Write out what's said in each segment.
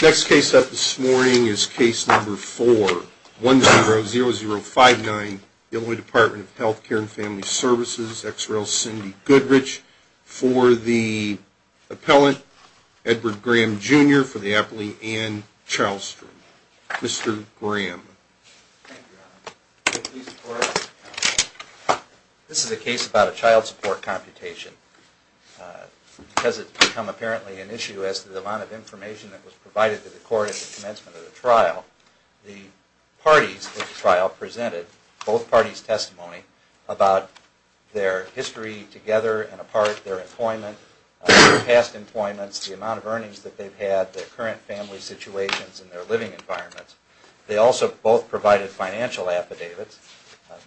Next case up this morning is case number 4, 100059, Illinois Department of Healthcare and Family Services, XRL Cindy Goodrich, for the appellant, Edward Graham, Jr., for the appellee, Ann Chalstrom. Mr. Graham. Thank you, Your Honor. This is a case about a child support computation. Because it's become apparently an issue as to the amount of information that was provided to the court at the commencement of the trial, the parties of the trial presented both parties' testimony about their history together and apart, their employment, their past employments, the amount of earnings that they've had, their current family situations, and their living environments. They also both provided financial affidavits.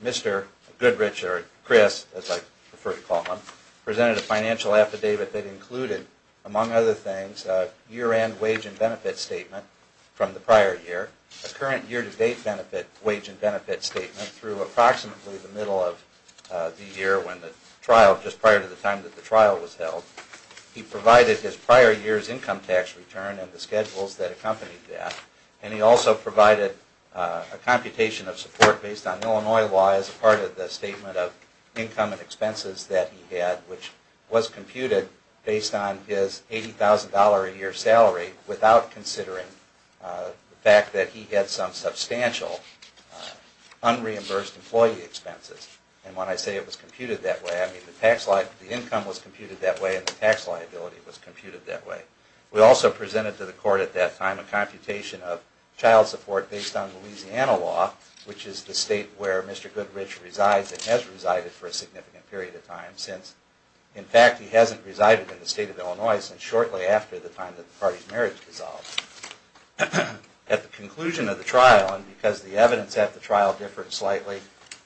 Mr. Goodrich, or Chris, as I prefer to call him, presented a financial affidavit that included, among other things, a year-end wage and benefit statement from the prior year, a current year-to-date wage and benefit statement through approximately the middle of the year when the trial, just prior to the time that the trial was held. He provided his prior year's income tax return and the schedules that accompanied that, and he also provided a computation of support based on Illinois law as part of the statement of income and expenses that he had, which was computed based on his $80,000 a year salary without considering the fact that he had some substantial unreimbursed employee expenses. And when I say it was computed that way, I mean the income was computed that way and the tax liability was computed that way. We also presented to the court at that time a computation of child support based on Louisiana law, which is the state where Mr. Goodrich resides and has resided for a significant period of time since, in fact, he hasn't resided in the state of Illinois since shortly after the time that the party's marriage dissolved. At the conclusion of the trial, and because the evidence at the trial differed slightly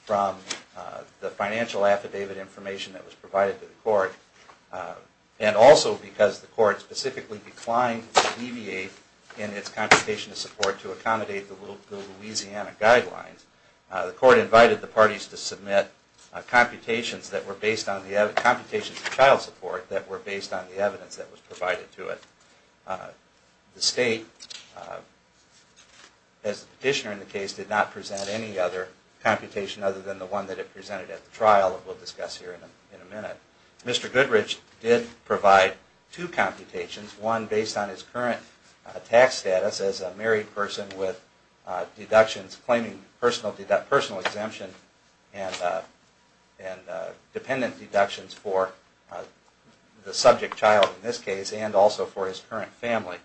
from the financial affidavit information that was provided to the court, and also because the court specifically declined to deviate in its computation of support to accommodate the Louisiana guidelines, the court invited the parties to submit computations of child support that were based on the evidence that was provided to it. The state, as the petitioner in the case did, did not present any other computation other than the one that it presented at the trial that we'll discuss here in a minute. Mr. Goodrich did provide two computations, one based on his current tax status as a married person with deductions claiming personal exemption and dependent deductions for the subject child in this case and also for his current family,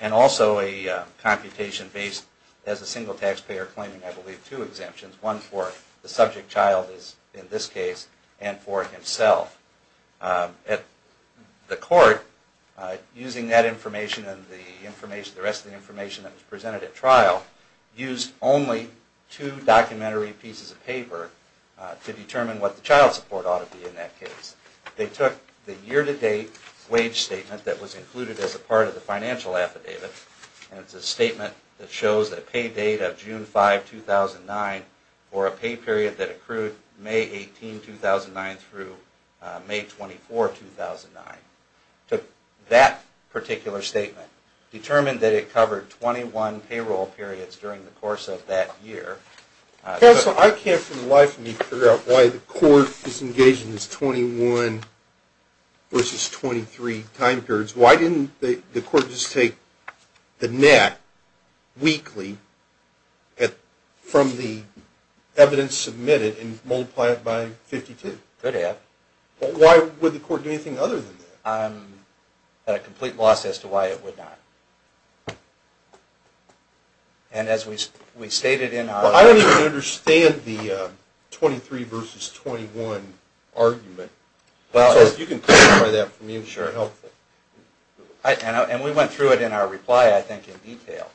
and also a computation based as a single taxpayer claiming, I believe, two exemptions, one for the subject child in this case and for himself. The court, using that information and the rest of the information that was They took the year-to-date wage statement that was included as a part of the financial affidavit, and it's a statement that shows a pay date of June 5, 2009, or a pay period that accrued May 18, 2009 through May 24, 2009. Took that particular statement, determined that it covered 21 payroll periods during the course of that year. Counsel, I can't for the life of me figure out why the court is engaged in this 21 versus 23 time periods. Why didn't the court just take the net weekly from the evidence submitted and multiply it by 52? Could have. Why would the court do anything other than that? A complete loss as to why it would not. And as we stated in our Well, I don't even understand the 23 versus 21 argument. So if you can clarify that for me, it would be helpful. And we went through it in our reply, I think, in detail.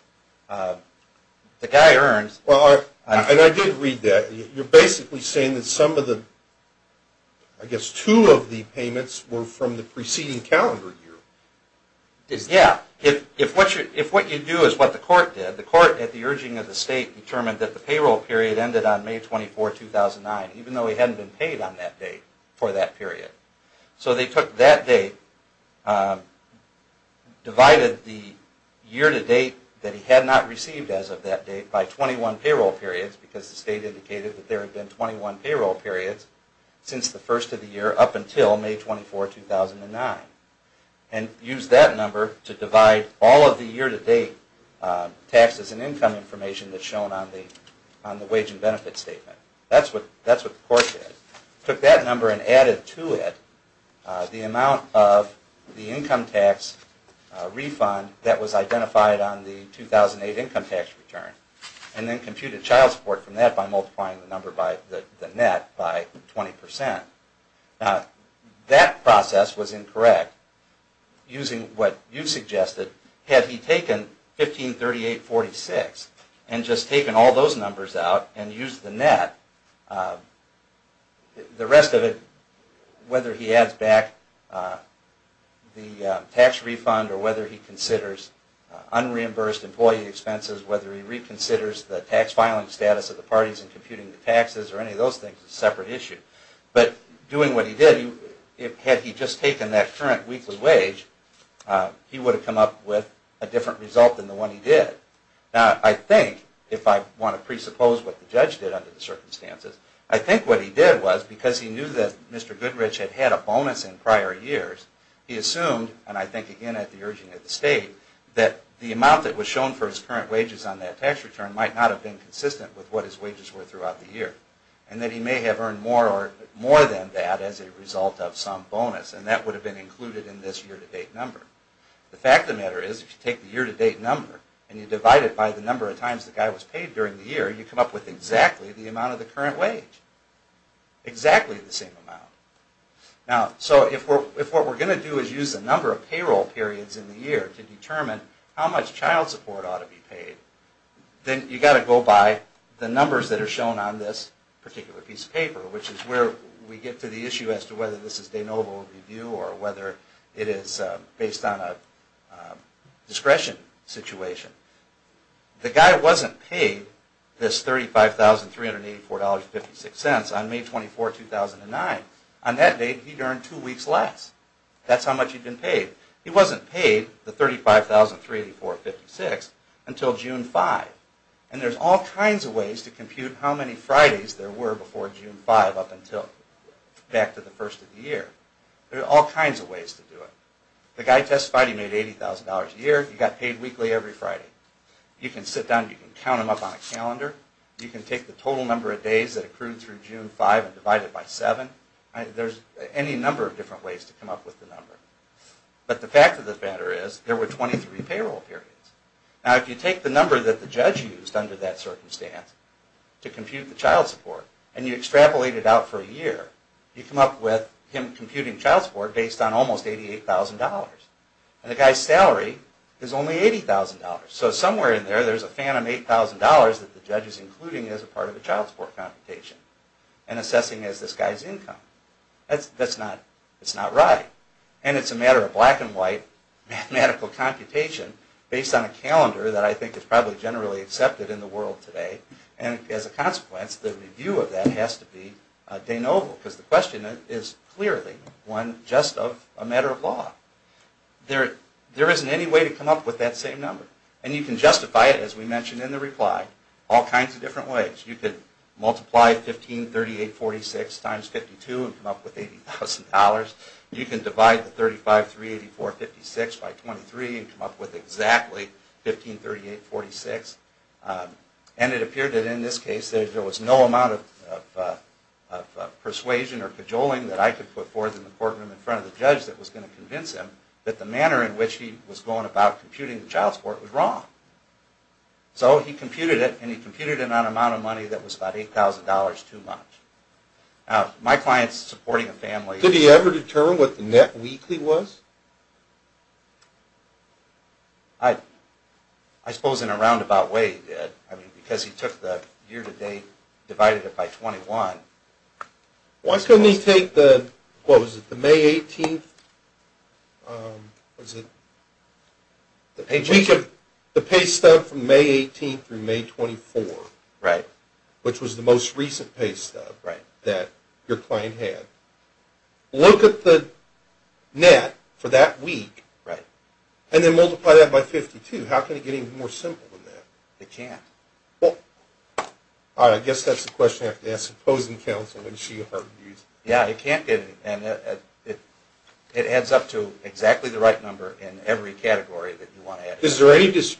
The guy earns Well, and I did read that. You're basically saying that some of the, I guess two of the payments were from the preceding calendar year. Yeah. If what you do is what the court did, the court at the urging of the state determined that the payroll period ended on May 24, 2009, even though he hadn't been paid on that date for that period. So they took that date, divided the year to date that he had not received as of that date by 21 payroll periods, because the state and used that number to divide all of the year to date taxes and income information that's shown on the wage and benefit statement. That's what the court did. Took that number and added to it the amount of the income tax refund that was identified on the 2008 income tax return, and then computed child support from that by multiplying the number by the net by 20%. Now, that process was incorrect using what you suggested. Had he taken 1538.46 and just taken all those numbers out and used the net, the rest of it, whether he adds back the tax refund or whether he considers unreimbursed employee expenses, whether he considers the parties and computing the taxes or any of those things is a separate issue. But doing what he did, had he just taken that current weekly wage, he would have come up with a different result than the one he did. Now, I think, if I want to presuppose what the judge did under the circumstances, I think what he did was because he knew that Mr. Goodrich had had a bonus in prior years, he assumed, and I think again at the urging of the state, that the amount that was shown for his current wages on that tax return might not have been consistent with what his wages were throughout the year. And that he may have earned more than that as a result of some bonus, and that would have been included in this year-to-date number. The fact of the matter is, if you take the year-to-date number and you divide it by the number of times the guy was paid during the year, you come up with exactly the amount of the current wage. Exactly the same amount. Now, so if what we're going to do is use the number of payroll periods in the year to determine how much child support ought to be paid, then you've got to go by the numbers that are shown on this particular piece of paper, which is where we get to the issue as to whether this is de novo review or whether it is based on a discretion situation. The guy wasn't paid this $35,384.56 on May 24, 2009. On that date, he'd earned two weeks less. That's how much he'd been paid. He wasn't paid the $35,384.56 until June 5. And there's all kinds of ways to compute how many Fridays there were before June 5 up until back to the first of the year. There are all kinds of ways to do it. The guy testified he made $80,000 a year. He got paid weekly every Friday. You can sit down, you can count them up on a calendar. You can take the total number of days that accrued through June 5 and divide it by 7. There's any number of different ways to come up with the number. But the fact of the matter is, there were 23 payroll periods. Now, if you take the number that the judge used under that circumstance to compute the child support, and you extrapolate it out for a year, you come up with him computing child support based on almost $88,000. And the guy's salary is only $80,000. So somewhere in there, there's a phantom $8,000 that the judge is including as a part of the child support computation and assessing as this guy's income. That's not right. And it's a matter of black and white mathematical computation based on a calendar that I think is probably generally accepted in the case of the de novo, because the question is clearly one just of a matter of law. There isn't any way to come up with that same number. And you can justify it, as we mentioned in the reply, all kinds of different ways. You could multiply 1538.46 times 52 and come up with $80,000. You can divide the persuasion or cajoling that I could put forth in the courtroom in front of the judge that was going to convince him that the manner in which he was going about computing the child support was wrong. So he computed it, and he computed it on an amount of money that was about $8,000 too much. Now, my client's year-to-date divided it by 21. Why couldn't he take the May 18th? The pay stub from May 18th through May 24th, which was the most recent pay stub that your client had, look at the net for that week, and then multiply that by 52. How can it get any more simple than that? It can't. Well, I guess that's the question I have to ask opposing counsel. Yeah, it can't get any more simple than that. It adds up to exactly the right number in every category that you want to add. Is there any evidence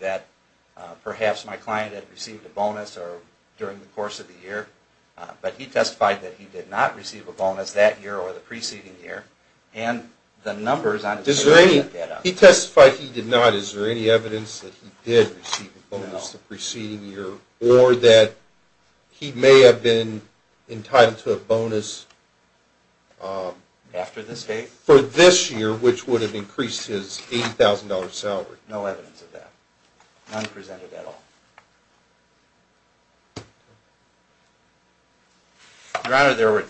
that perhaps my client had received a bonus during the course of the year, but he testified that he did not receive a bonus that year or the preceding year, and the numbers on his pay stub add that up. He testified he did not. Is there any evidence that he did receive a bonus the preceding year or that he may have been entitled to a bonus that year that was not presented at all? Your Honor, there are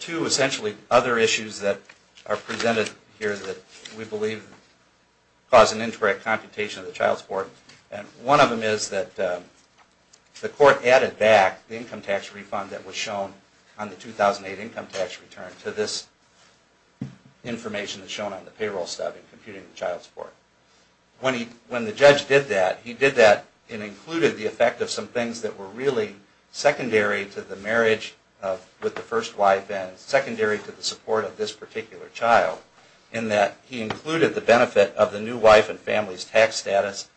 two essentially other issues that are presented here that we believe cause an incorrect computation of the child support, and one of them is that the court added back the income tax refund that was shown on the 2008 income tax return to this information that's included the effect of some things that were really secondary to the marriage with the first wife and secondary to the support of this particular child, in that he included the benefit of the new wife and family's tax status,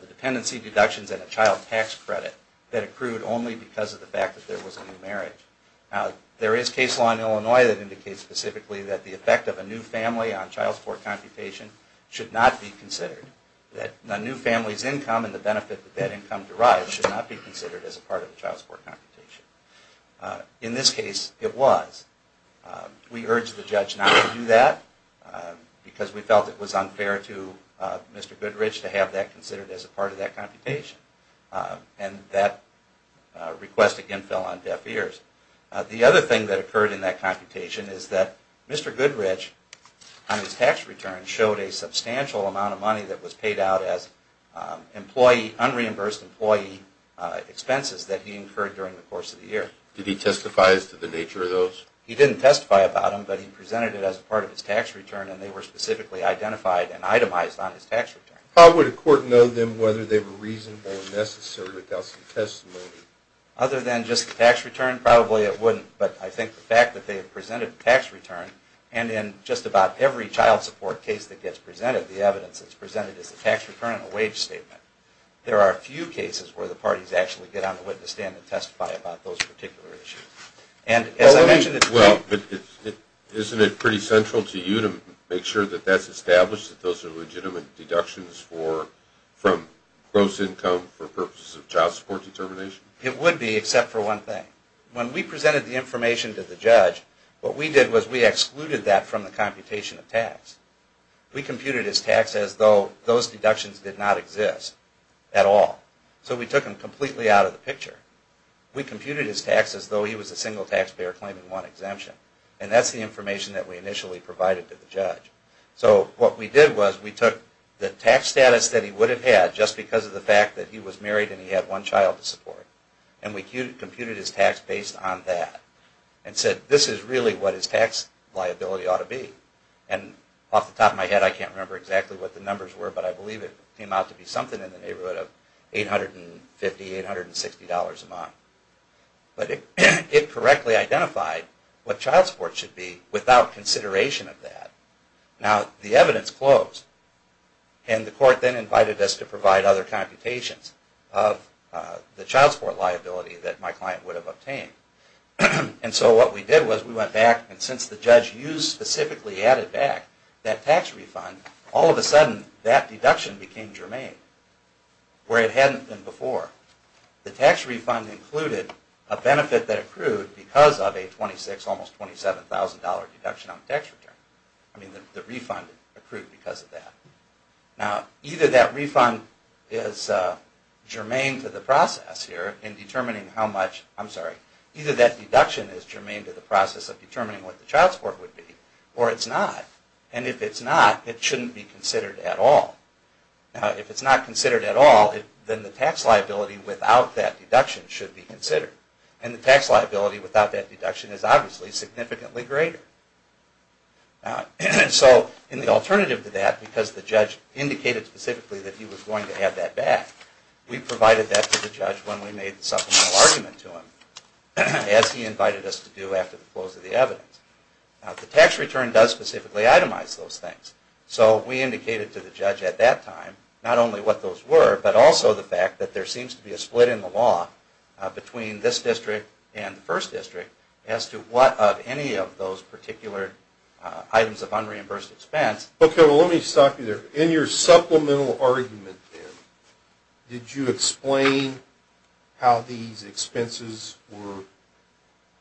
the dependency deductions, and the child tax credit that accrued only because of the fact that there was a new marriage. There is case law in Illinois that indicates specifically that the effect of a new family on child support computation should not be considered, that the new family's income and the benefit that that income derives should not be considered as a part of the child support computation. In this case, it was. We urged the judge not to do that because we felt it was unfair to Mr. Goodrich to have that considered as a part of that computation, and that request again fell on deaf ears. The other thing that occurred in that computation is that Mr. Goodrich on his tax return showed a substantial amount of money that was paid out as unreimbursed employee expenses that he had to pay out of his tax return, and they were specifically identified and itemized on his tax return. How would a court know then whether they were reasonable or necessary without some testimony? Other than just the tax return, probably it wouldn't, but I think the fact that they have presented a tax return, and in just about every child support case that gets presented, the evidence is presented as a tax return and a wage statement. There are a few cases where the parties actually get on the witness stand and testify about those particular issues. Isn't it pretty central to you to make sure that that's established, that those are legitimate deductions from gross income for purposes of child support determination? It would be, except for one thing. When we presented the information to the judge, what we did was we excluded that from the computation of tax. We computed his tax as though those deductions did not exist at all. So we took him completely out of the picture. We computed his tax as though he was a single taxpayer claiming one exemption, and that's the information that we initially provided to the judge. So what we did was we took the tax status that he would have had just because of the fact that he was married and he had one child to support, and we computed his tax based on that and said, this is really what his tax liability ought to be. And off the top of my head, I can't remember exactly what the numbers were, but I believe it came out to be something in the neighborhood of $850, $860 a month. But it correctly identified what child support should be without consideration of that. Now the evidence closed, and the court then invited us to provide other tax refunds. All of a sudden, that deduction became germane, where it hadn't been before. The tax refund included a benefit that accrued because of a $26,000, almost $27,000 deduction on the tax return. I mean, the refund accrued because of that. Now, either that refund is germane to the process here in And if it's not, it shouldn't be considered at all. If it's not considered at all, then the tax liability without that deduction should be considered. And the tax liability without that deduction is obviously significantly greater. So in the alternative to that, because the judge indicated specifically that he was going to The tax return does specifically itemize those things. So we indicated to the judge at that time not only what those were, but also the fact that there seems to be a split in the law between this district and the first district as to what of any of those particular items of unreimbursed expense. Okay. Well, let me stop you there. In your supplemental argument, then, did you explain how these expenses were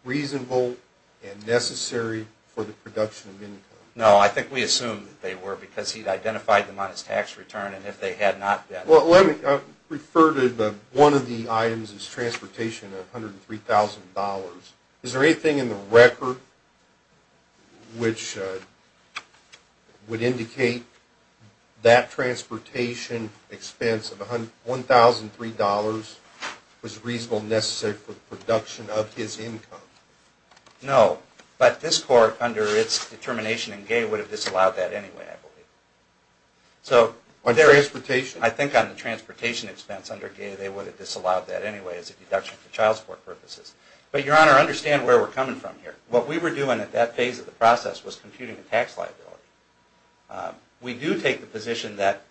reasonable and necessary for the production of income? No. I think we assumed that they were, because he'd identified them on his tax return, and if they had not been Well, let me refer to one of the items as transportation of $103,000. Is there anything in the record which would indicate that transportation expense of $1,003 was reasonable and necessary for the production of his income? No. But this court, under its determination in Gay, would have disallowed that anyway, I believe. On transportation? I think on the transportation expense under Gay, they would have disallowed that anyway as a deduction for child support purposes. But, Your Honor, understand where we're coming from here. What we were doing at that phase of the process was computing the tax liability. We do take the position that,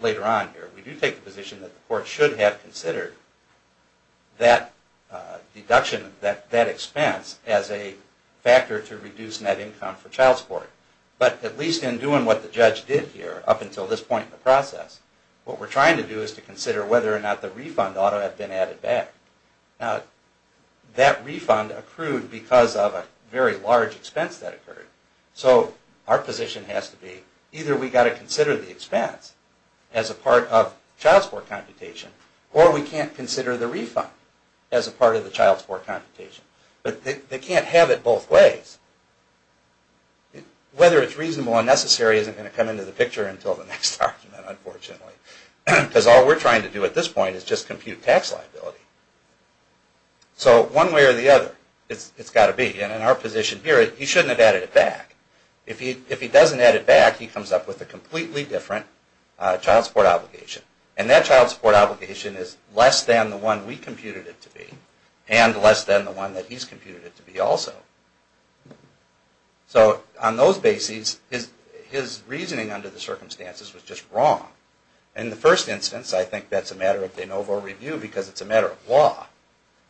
later on here, we do take the position that the court should have considered that deduction, that expense, as a factor to reduce net income for child support. But, at least in doing what the judge did here, up until this point in the process, what we're trying to do is to consider whether or not the refund ought to have been added back. Now, that refund accrued because of a very large expense that occurred. So, our position has to be, either we've got to consider the expense as a part of child support computation, or we can't consider the refund as a part of the child support computation. But, they can't have it both ways. Whether it's reasonable and necessary isn't going to come into the picture until the next argument, unfortunately. Because all we're trying to do at this point is just compute tax liability. So, one way or the other, it's got to be. And in our position here, he shouldn't have added it back. If he doesn't add it back, he comes up with a completely different child support obligation. And that child obligation that he's computed it to be also. So, on those bases, his reasoning under the circumstances was just wrong. In the first instance, I think that's a matter of de novo review, because it's a matter of law.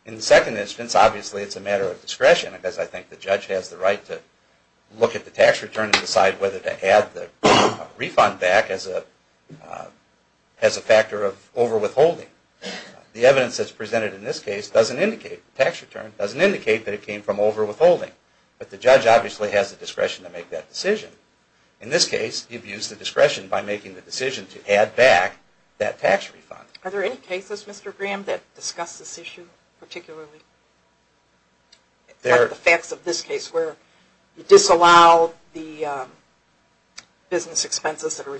In the second instance, obviously it's a matter of discretion, because I think the judge has the right to look at the tax return and decide whether to add the refund back as a factor of over withholding. The evidence that's presented in this case doesn't indicate, the tax return doesn't indicate that it came from over withholding. But, the judge obviously has the discretion to make that decision. In this case, he views the discretion by making the decision to add back that tax refund. Are there any cases, Mr. Graham, that discuss this issue particularly? Like the facts of this case, where you disallow the business expenses that are There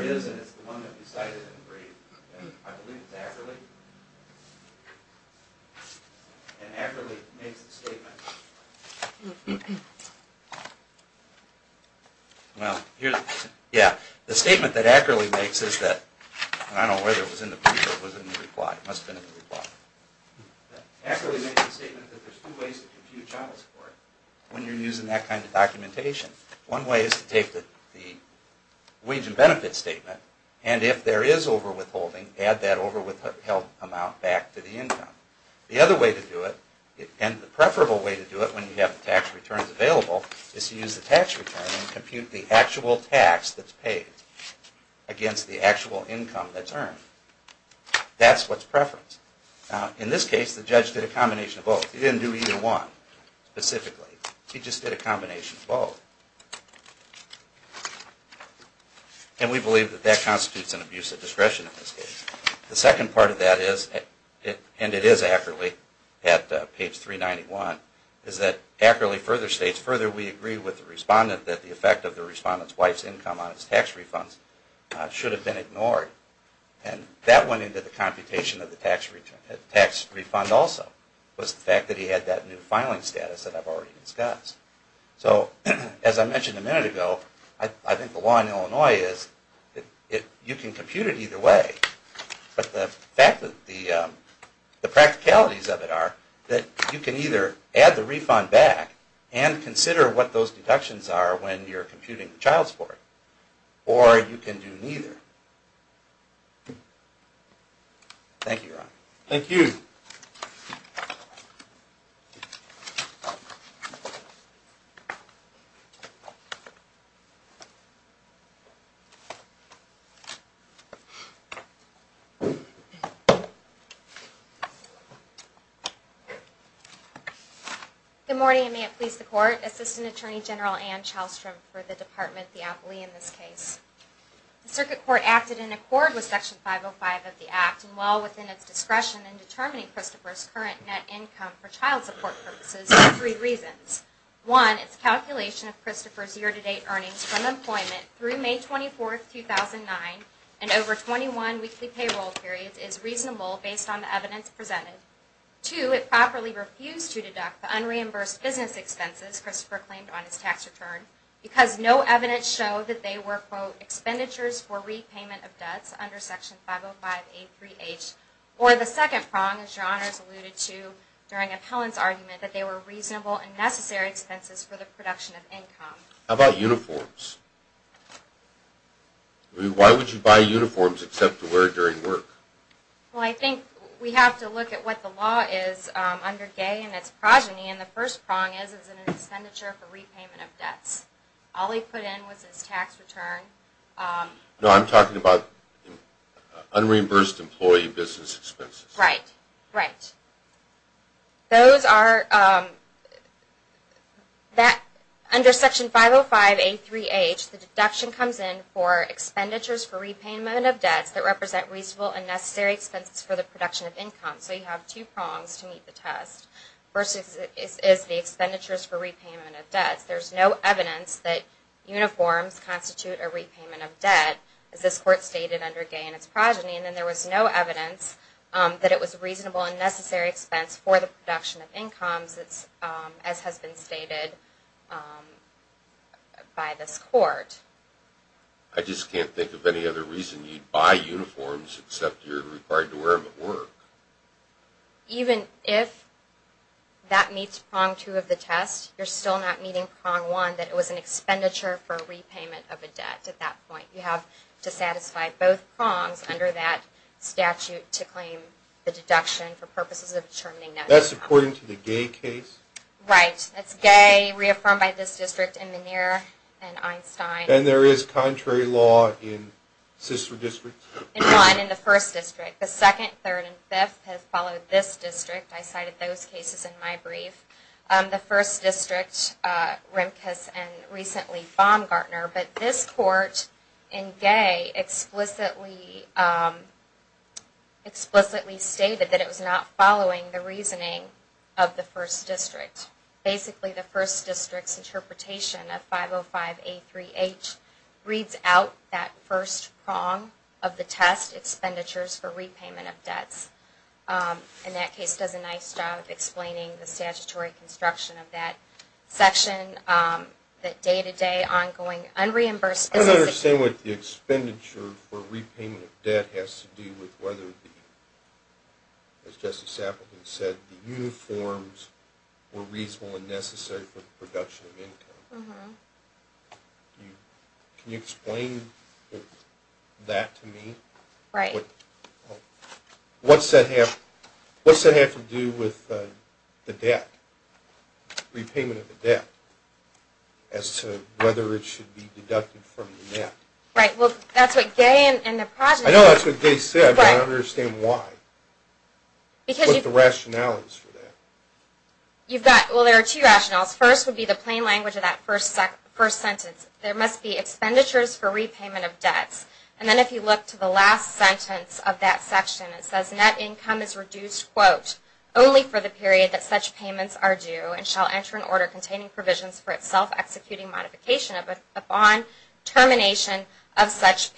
is, and it's the one that we cited in the brief. I believe it's Ackerley. And Ackerley makes the statement. Yeah, the statement that Ackerley makes is that, and I don't know whether it was in the brief or it was in the reply. It must have been in the reply. Ackerley makes the statement that there's two ways to compute child support when you're using that kind of documentation. One way is to take the wage and benefit statement, and if there is over withholding, add that over withheld amount back to the income. The other way to do it, and the preferable way to do it when you have the tax returns available, is to use the tax return and compute the actual tax that's paid against the actual income that's earned. That's what's specifically. He just did a combination of both. And we believe that that constitutes an abuse of discretion in this case. The second part of that is, and it is Ackerley at page 391, is that Ackerley further states, further we agree with the respondent that the effect of the respondent's wife's income on status that I've already discussed. So as I mentioned a minute ago, I think the law in Illinois is that you can compute it either way, but the fact that the practicalities of it are that you can either add the refund back and consider what those deductions are when you're computing the child support, or you can do it the other way. Good morning, and may it please the Court. Assistant Attorney General Ann Chalstrom for the Department of the Appellee in this case. The Circuit for three reasons. One, it's calculation of Christopher's year-to-date earnings from employment through May 24, 2009 and over 21 weekly payroll periods is reasonable based on the evidence presented. Two, it properly refused to deduct the unreimbursed business expenses Christopher claimed on his tax return, because no evidence showed that they were, quote, expenditures for repayment of debts under Section 505A3H. Or the second prong, as Your Honors alluded to during the appellant's argument, that they were reasonable and necessary expenses for the production of income. How about uniforms? I mean, why would you buy uniforms except to wear it during work? Well, I think we have to look at what the law is under Gay and its progeny, and the first prong is it's an expenditure for repayment of debts. Those are, under Section 505A3H, the deduction comes in for expenditures for repayment of debts that represent reasonable and necessary expenses for the production of income. So you have two prongs to meet the test. First is the expenditures for repayment of debts. There's no evidence that it's as has been stated by this Court. I just can't think of any other reason you'd buy uniforms except you're required to wear them at work. Even if that meets prong two of the test, you're still not meeting prong one, that it was an expenditure for repayment of a debt at that point. You have to satisfy both prongs under that statute to claim the case. Right. It's Gay, reaffirmed by this district in Meniere and Einstein. And there is contrary law in sister districts? In one, in the first district. The second, third, and fifth have followed this district. I cited those cases in my brief. The first district, Remkes, and recently Baumgartner. But this basically the first district's interpretation of 505A3H reads out that first prong of the test, expenditures for repayment of debts. And that case does a nice job of explaining the statutory construction of that section, that day-to-day ongoing unreimbursed. I don't understand what the expenditure for repayment of debt has to do with whether the, as Jesse Sappleton said, the uniforms were reasonable and necessary for the production of income. Can you explain that to me? Right. What's that have to do with the debt, repayment of the debt, as to whether it should be deducted from the net? Right. Well, that's what Gay and the project said. I know that's what Gay said, but I don't understand why. What's the rationales for that? You've got, well, there are two rationales. First would be the plain language of that first sentence. There must be expenditures for repayment of debts. And then if you look to the last sentence of that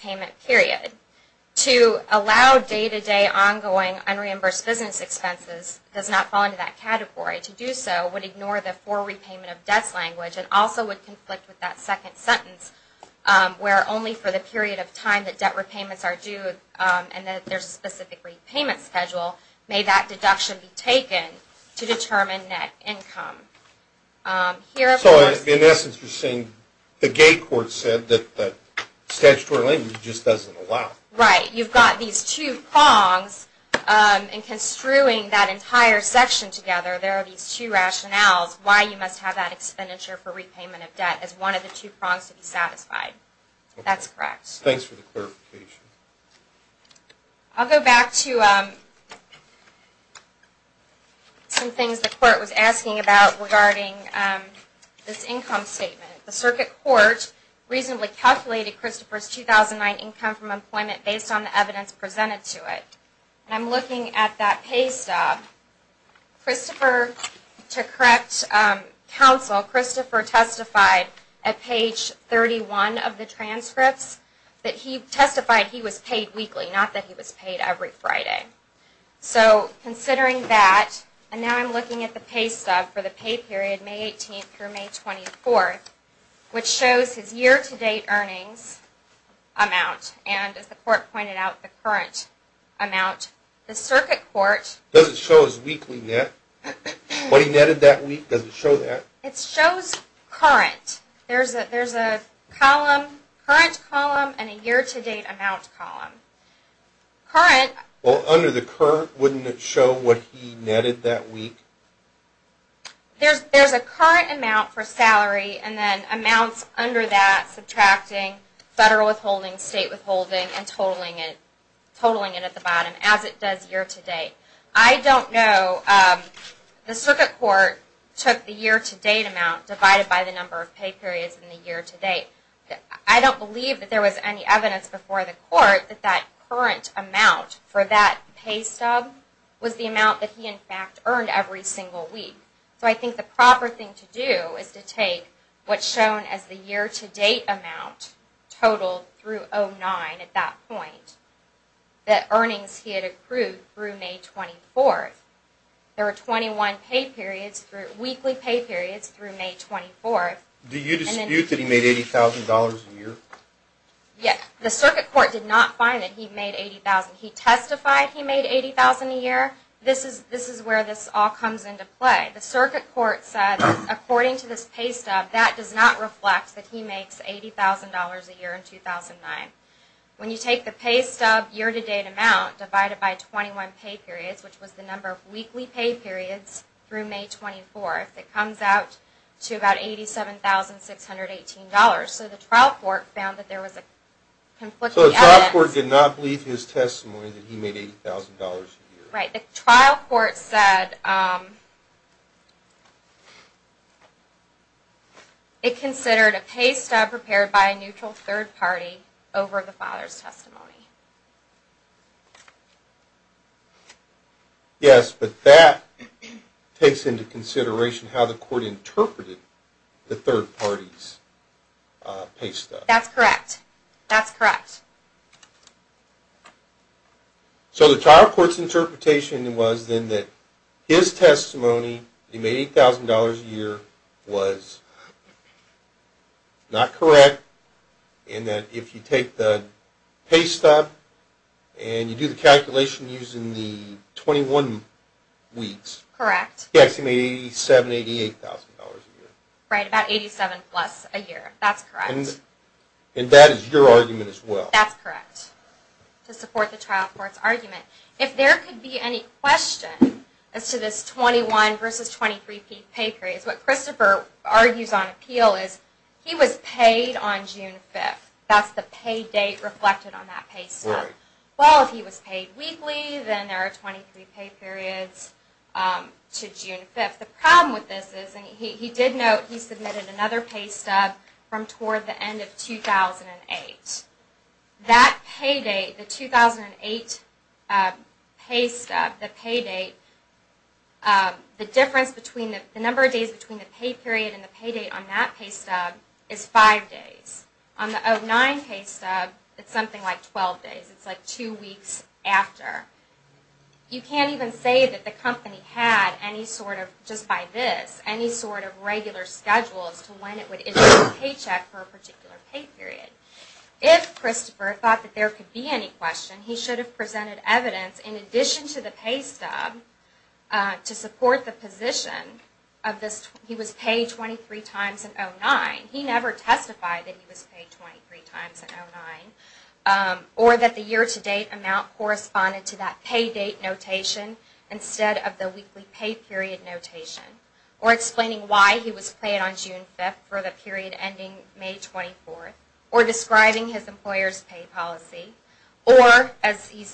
payment period. To allow day-to-day ongoing unreimbursed business expenses does not fall into that category. To do so would ignore the for repayment of debts language and also would conflict with that second sentence where only for the period of time that debt repayments are due and that there's a specific repayment schedule may that deduction be taken to statutory language just doesn't allow. Right. You've got these two prongs in construing that entire section together. There are these two rationales why you must have that expenditure for repayment of debt as one of the two prongs to be satisfied. That's correct. Thanks for the clarification. I'll go back to some things the court was asking about regarding this income statement. The circuit court recently calculated Christopher's 2009 income from employment based on the evidence presented to it. And I'm looking at that pay stub. Christopher, to correct counsel, Christopher testified at page 31 of the transcripts that he testified he was paid weekly, not that he was paid every Friday. So May 18th through May 24th, which shows his year-to-date earnings amount. And as the court pointed out, the current amount. The circuit court. Does it show his weekly net? What he netted that week? There's a current amount for salary and then amounts under that subtracting federal withholding, state withholding, and totaling it at the bottom as it does year-to-date. I don't know. The circuit amount for that pay stub was the amount that he, in fact, earned every single week. So I think the proper thing to do is to take what's shown as the year-to-date amount totaled through 09 at that point. The He testified he made $80,000 a year. This is where this all comes into play. The circuit court said, according to this pay stub, that does not reflect that he makes $80,000 a year in 2009. When you take the pay periods, which was the number of weekly pay periods through May 24th, it comes out to about $87,618. So the trial court found that there was a conflicting evidence. So the trial court did not believe his testimony that he made $80,000 a year. Right. The trial court said it considered a pay stub prepared by a neutral third party over the father's testimony. Yes, but that takes into consideration how the court interpreted the third party's pay stub. That's correct. That's correct. So the trial court's interpretation was then that his testimony that he made $80,000 a year was not correct, and that if you take the pay stub and you do the calculation using the 21 weeks, he actually made $87,880 a year. Right, about $87,880 plus a year. That's correct. And that is your argument as well? That's correct, to support the trial court's argument. If there could be any question as to this 21 versus 23 pay period, what Christopher argues on appeal is he was paid on June 5th. That's the pay date reflected on that pay stub. Right. Well, if he was paid weekly, then there are 23 pay periods to June 5th. The problem with this is, and he did note he submitted another pay stub from toward the end of 2008. That pay date, the 2008 pay stub, the pay date, the difference between the number of days between the pay period and the pay date on that pay stub is five days. On the 2009 pay stub, it's something like 12 days. It's like two weeks after. You can't even say that the company had any sort of, just by this, any sort of regular schedule as to when it would issue a paycheck for a particular pay period. If Christopher thought that there could be any question, he should have presented evidence in addition to the pay stub to support the position of this, he was paid 23 times in 2009. He never testified that he was paid 23 times in 2009. Or that the year-to-date amount corresponded to that pay date notation instead of the weekly pay period notation. Or explaining why he was paid on June 5th for the period ending May 24th. Or describing his employer's pay policy. Or, as he,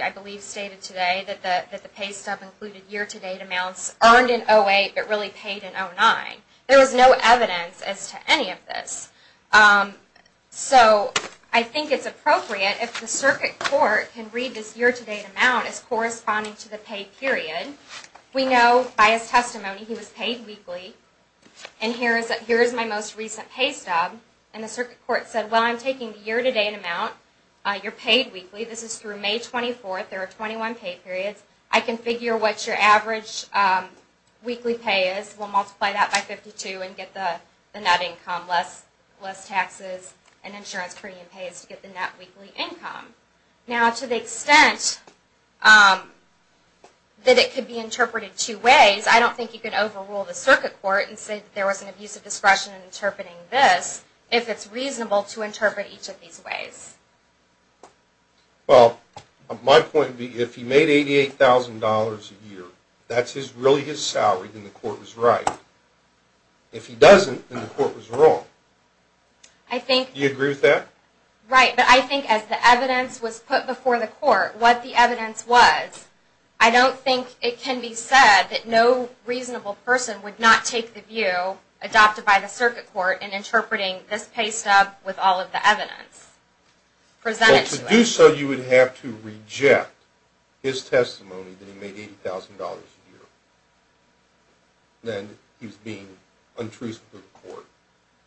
I believe, stated today, that the pay stub included year-to-date amounts earned in 2008 but really paid in 2009. There was no evidence as to any of this. So, I think it's appropriate if the circuit court can read this year-to-date amount as corresponding to the pay period. We know by his testimony he was paid weekly. And here is my most recent pay stub. And the circuit court said, well, I'm taking the year-to-date amount. You're paid weekly. This is through May 24th. There are 21 pay periods. I can figure what your average weekly pay is. We'll multiply that by 52 and get the net income. Less taxes and insurance premium pays to get the net weekly income. Now, to the extent that it could be interpreted two ways, I don't think you could overrule the circuit court and say that there was an abuse of discretion in interpreting this if it's reasonable to interpret each of these ways. Well, my point would be, if he made $88,000 a year, that's really his salary, then the court was right. If he doesn't, then the court was wrong. Do you agree with that? Right, but I think as the evidence was put before the court, what the evidence was, I don't think it can be said that no reasonable person would not take the view adopted by the circuit court in interpreting this pay stub with all of the evidence presented to us. If you do so, you would have to reject his testimony that he made $80,000 a year, then he's being untruthful to the court.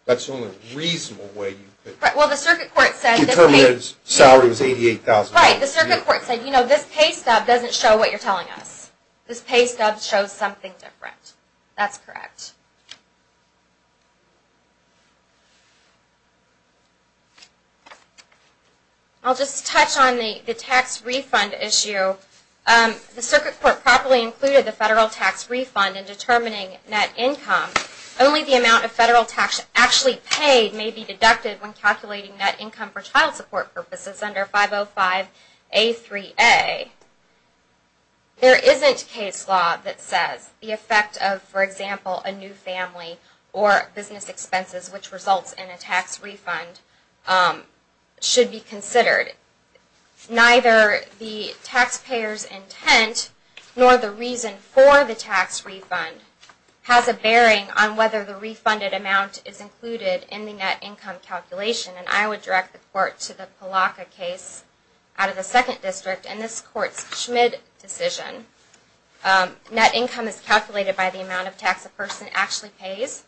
That's the only reasonable way you could... Well, the circuit court said... ...determine his salary was $88,000 a year. Right, the circuit court said, you know, this pay stub doesn't show what you're telling us. This pay stub shows something different. That's correct. I'll just touch on the tax refund issue. The circuit court properly included the federal tax refund in determining net income. Only the amount of federal tax actually paid may be deducted when calculating net income for child support purposes under 505A3A. There isn't case law that says the effect of, for example, a new family or business expenses which results in a tax refund should be considered. Neither the taxpayer's intent nor the reason for the tax refund has a bearing on whether the refunded amount is included in the net income calculation. And I would direct the court to the Palaka case out of the 2nd District and this court's Schmid decision. Net income is calculated by the amount of tax a person actually pays.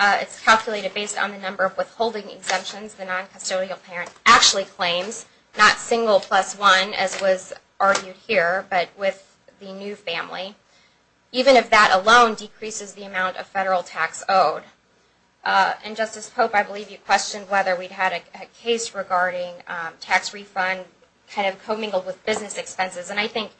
It's calculated based on the number of withholding exemptions the non-custodial parent actually claims, not single plus one as was argued here, but with the new family. Even if that alone decreases the amount of federal tax owed. And Justice Pope, I believe you questioned whether we had a case regarding tax refund kind of commingled with business expenses. And I think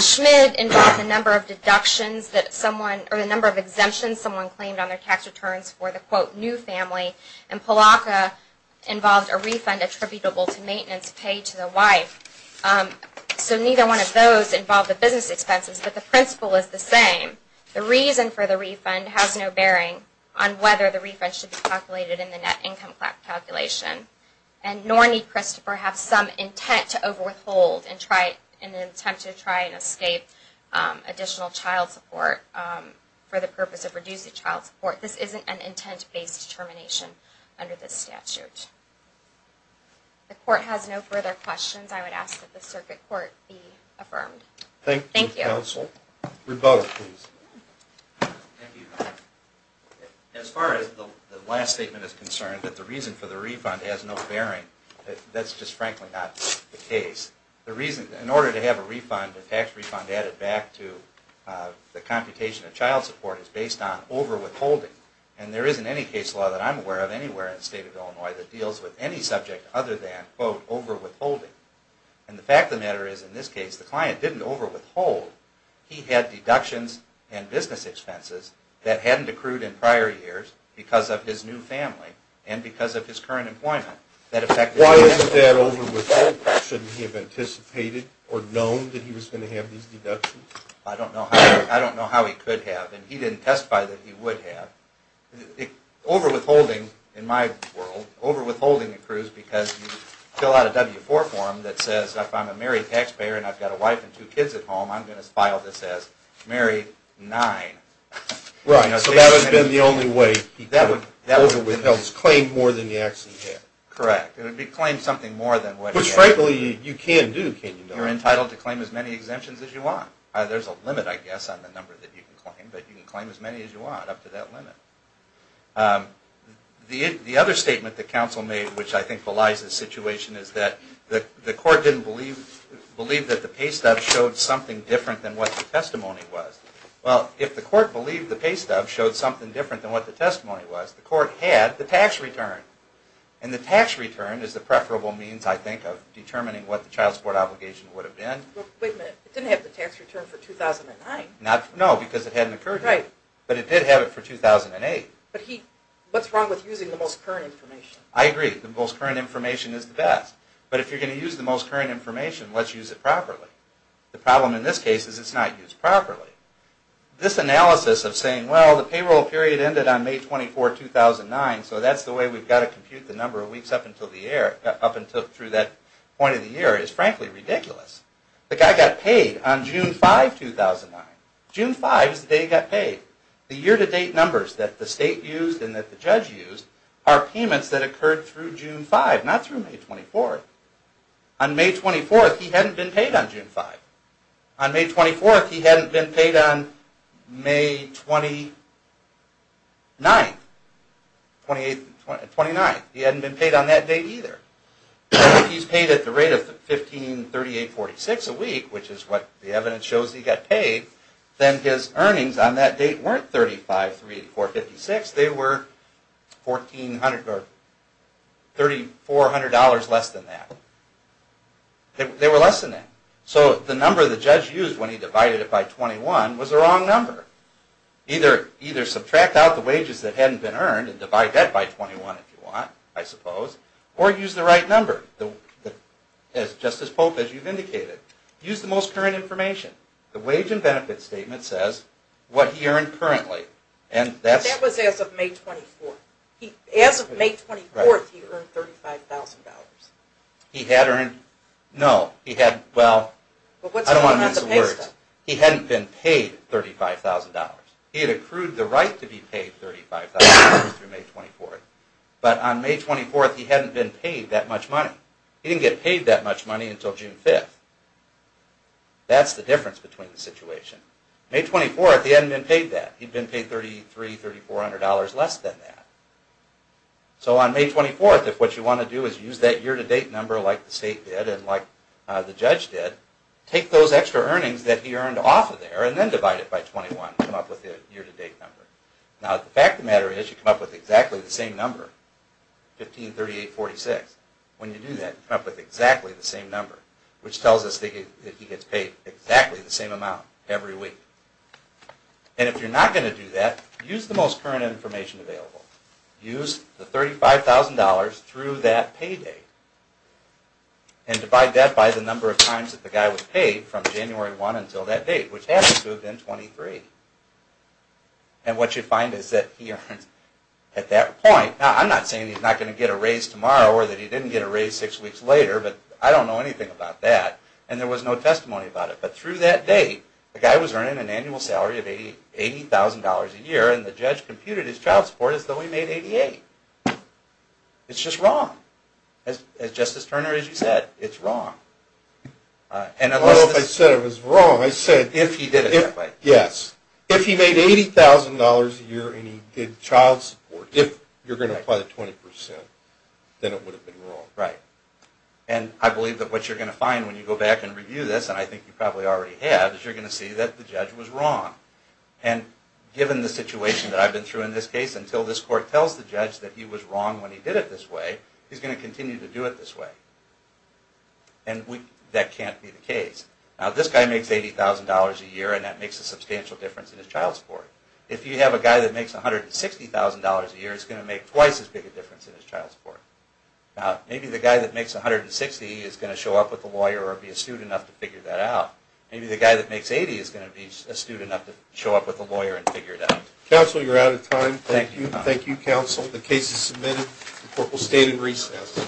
Schmid involved a number of deductions that someone, or a number of exemptions someone claimed on their tax returns for the quote new family. And Palaka involved a refund attributable to maintenance paid to the wife. So neither one of those involved the business expenses, but the principle is the same. The reason for the refund has no bearing on whether the refund should be calculated in the net income calculation. And nor need Christopher have some intent to over withhold in an attempt to try and escape additional child support for the purpose of reducing child support. This isn't an intent based determination under this statute. The court has no further questions. I would ask that the circuit court be affirmed. Thank you counsel. Thank you. Rebuttal please. Other than quote over withholding. And the fact of the matter is in this case the client didn't over withhold. He had deductions and business expenses that hadn't accrued in prior years because of his new family and because of his current employment. Why isn't that over withhold? Shouldn't he have anticipated or known that he was going to have these deductions? I don't know how he could have. And he didn't testify that he would have. Over withholding in my world, over withholding accrues because you fill out a W-4 form that says if I'm a married taxpayer and I've got a wife and two kids at home, I'm going to file this as married nine. Right. So that would have been the only way he could have over withheld his claim more than he actually had. Correct. It would be claimed something more than what he had. Which frankly you can do, can't you not? You're entitled to claim as many exemptions as you want. There's a limit I guess on the number that you can claim, but you can claim as many as you want up to that limit. The other statement that counsel made which I think belies the situation is that the court didn't believe that the pay stub showed something different than what the testimony was. Well, if the court believed the pay stub showed something different than what the testimony was, the court had the tax return. And the tax return is the preferable means I think of determining what the child support obligation would have been. Wait a minute. It didn't have the tax return for 2009. No, because it hadn't occurred yet. Right. But it did have it for 2008. But he, what's wrong with using the most current information? I agree. The most current information is the best. But if you're going to use the most current information, let's use it properly. The problem in this case is it's not used properly. This analysis of saying, well, the payroll period ended on May 24, 2009, so that's the way we've got to compute the number of weeks up until that point in the year is frankly ridiculous. The guy got paid on June 5, 2009. June 5 is the day he got paid. The year-to-date numbers that the state used and that the judge used are payments that occurred through June 5, not through May 24. On May 24, he hadn't been paid on June 5. On May 24, he hadn't been paid on May 29. He hadn't been paid on that date either. If he's paid at the rate of $15,3846 a week, which is what the evidence shows he got paid, then his earnings on that date weren't $35,38456. They were $3,400 less than that. They were less than that. So the number the judge used when he divided it by 21 was the wrong number. Either subtract out the wages that hadn't been earned and divide that by 21 if you want, I suppose, or use the right number, just as Pope, as you've indicated. Use the most current information. The wage and benefit statement says what he earned currently. That was as of May 24. As of May 24, he earned $35,000. He had earned, no, he had, well, I don't want to miss a word. He hadn't been paid $35,000. He had accrued the right to be paid $35,000 through May 24. But on May 24, he hadn't been paid that much money. He didn't get paid that much money until June 5. That's the difference between the situation. May 24, he hadn't been paid that. He'd been paid $33,000, $34,000 less than that. So on May 24, if what you want to do is use that year-to-date number like the state did and like the judge did, take those extra earnings that he earned off of there and then divide it by 21 to come up with the year-to-date number. Now, the fact of the matter is you come up with exactly the same number, 15,3846. When you do that, you come up with exactly the same number, which tells us that he gets paid exactly the same amount every week. And if you're not going to do that, use the most current information available. Use the $35,000 through that payday and divide that by the number of times that the guy was paid from January 1 until that date, which happens to have been 23. And what you find is that he earned, at that point, now I'm not saying he's not going to get a raise tomorrow or that he didn't get a raise six weeks later, but I don't know anything about that. And there was no testimony about it. But through that date, the guy was earning an annual salary of $80,000 a year, and the judge computed his child support as though he made $88,000. It's just wrong. As Justice Turner, as you said, it's wrong. I don't know if I said it was wrong. I said if he did it that way. Yes. If he made $80,000 a year and he did child support, if you're going to apply the 20%, then it would have been wrong. Right. And I believe that what you're going to find when you go back and review this, and I think you probably already have, is you're going to see that the judge was wrong. And given the situation that I've been through in this case, until this court tells the judge that he was wrong when he did it this way, he's going to continue to do it this way. And that can't be the case. Now, this guy makes $80,000 a year, and that makes a substantial difference in his child support. If you have a guy that makes $160,000 a year, it's going to make twice as big a difference in his child support. Now, maybe the guy that makes $160,000 is going to show up with a lawyer or be astute enough to figure that out. Maybe the guy that makes $80,000 is going to be astute enough to show up with a lawyer and figure it out. Counsel, you're out of time. Thank you. Thank you, counsel. The case is submitted. The court will stay in recess.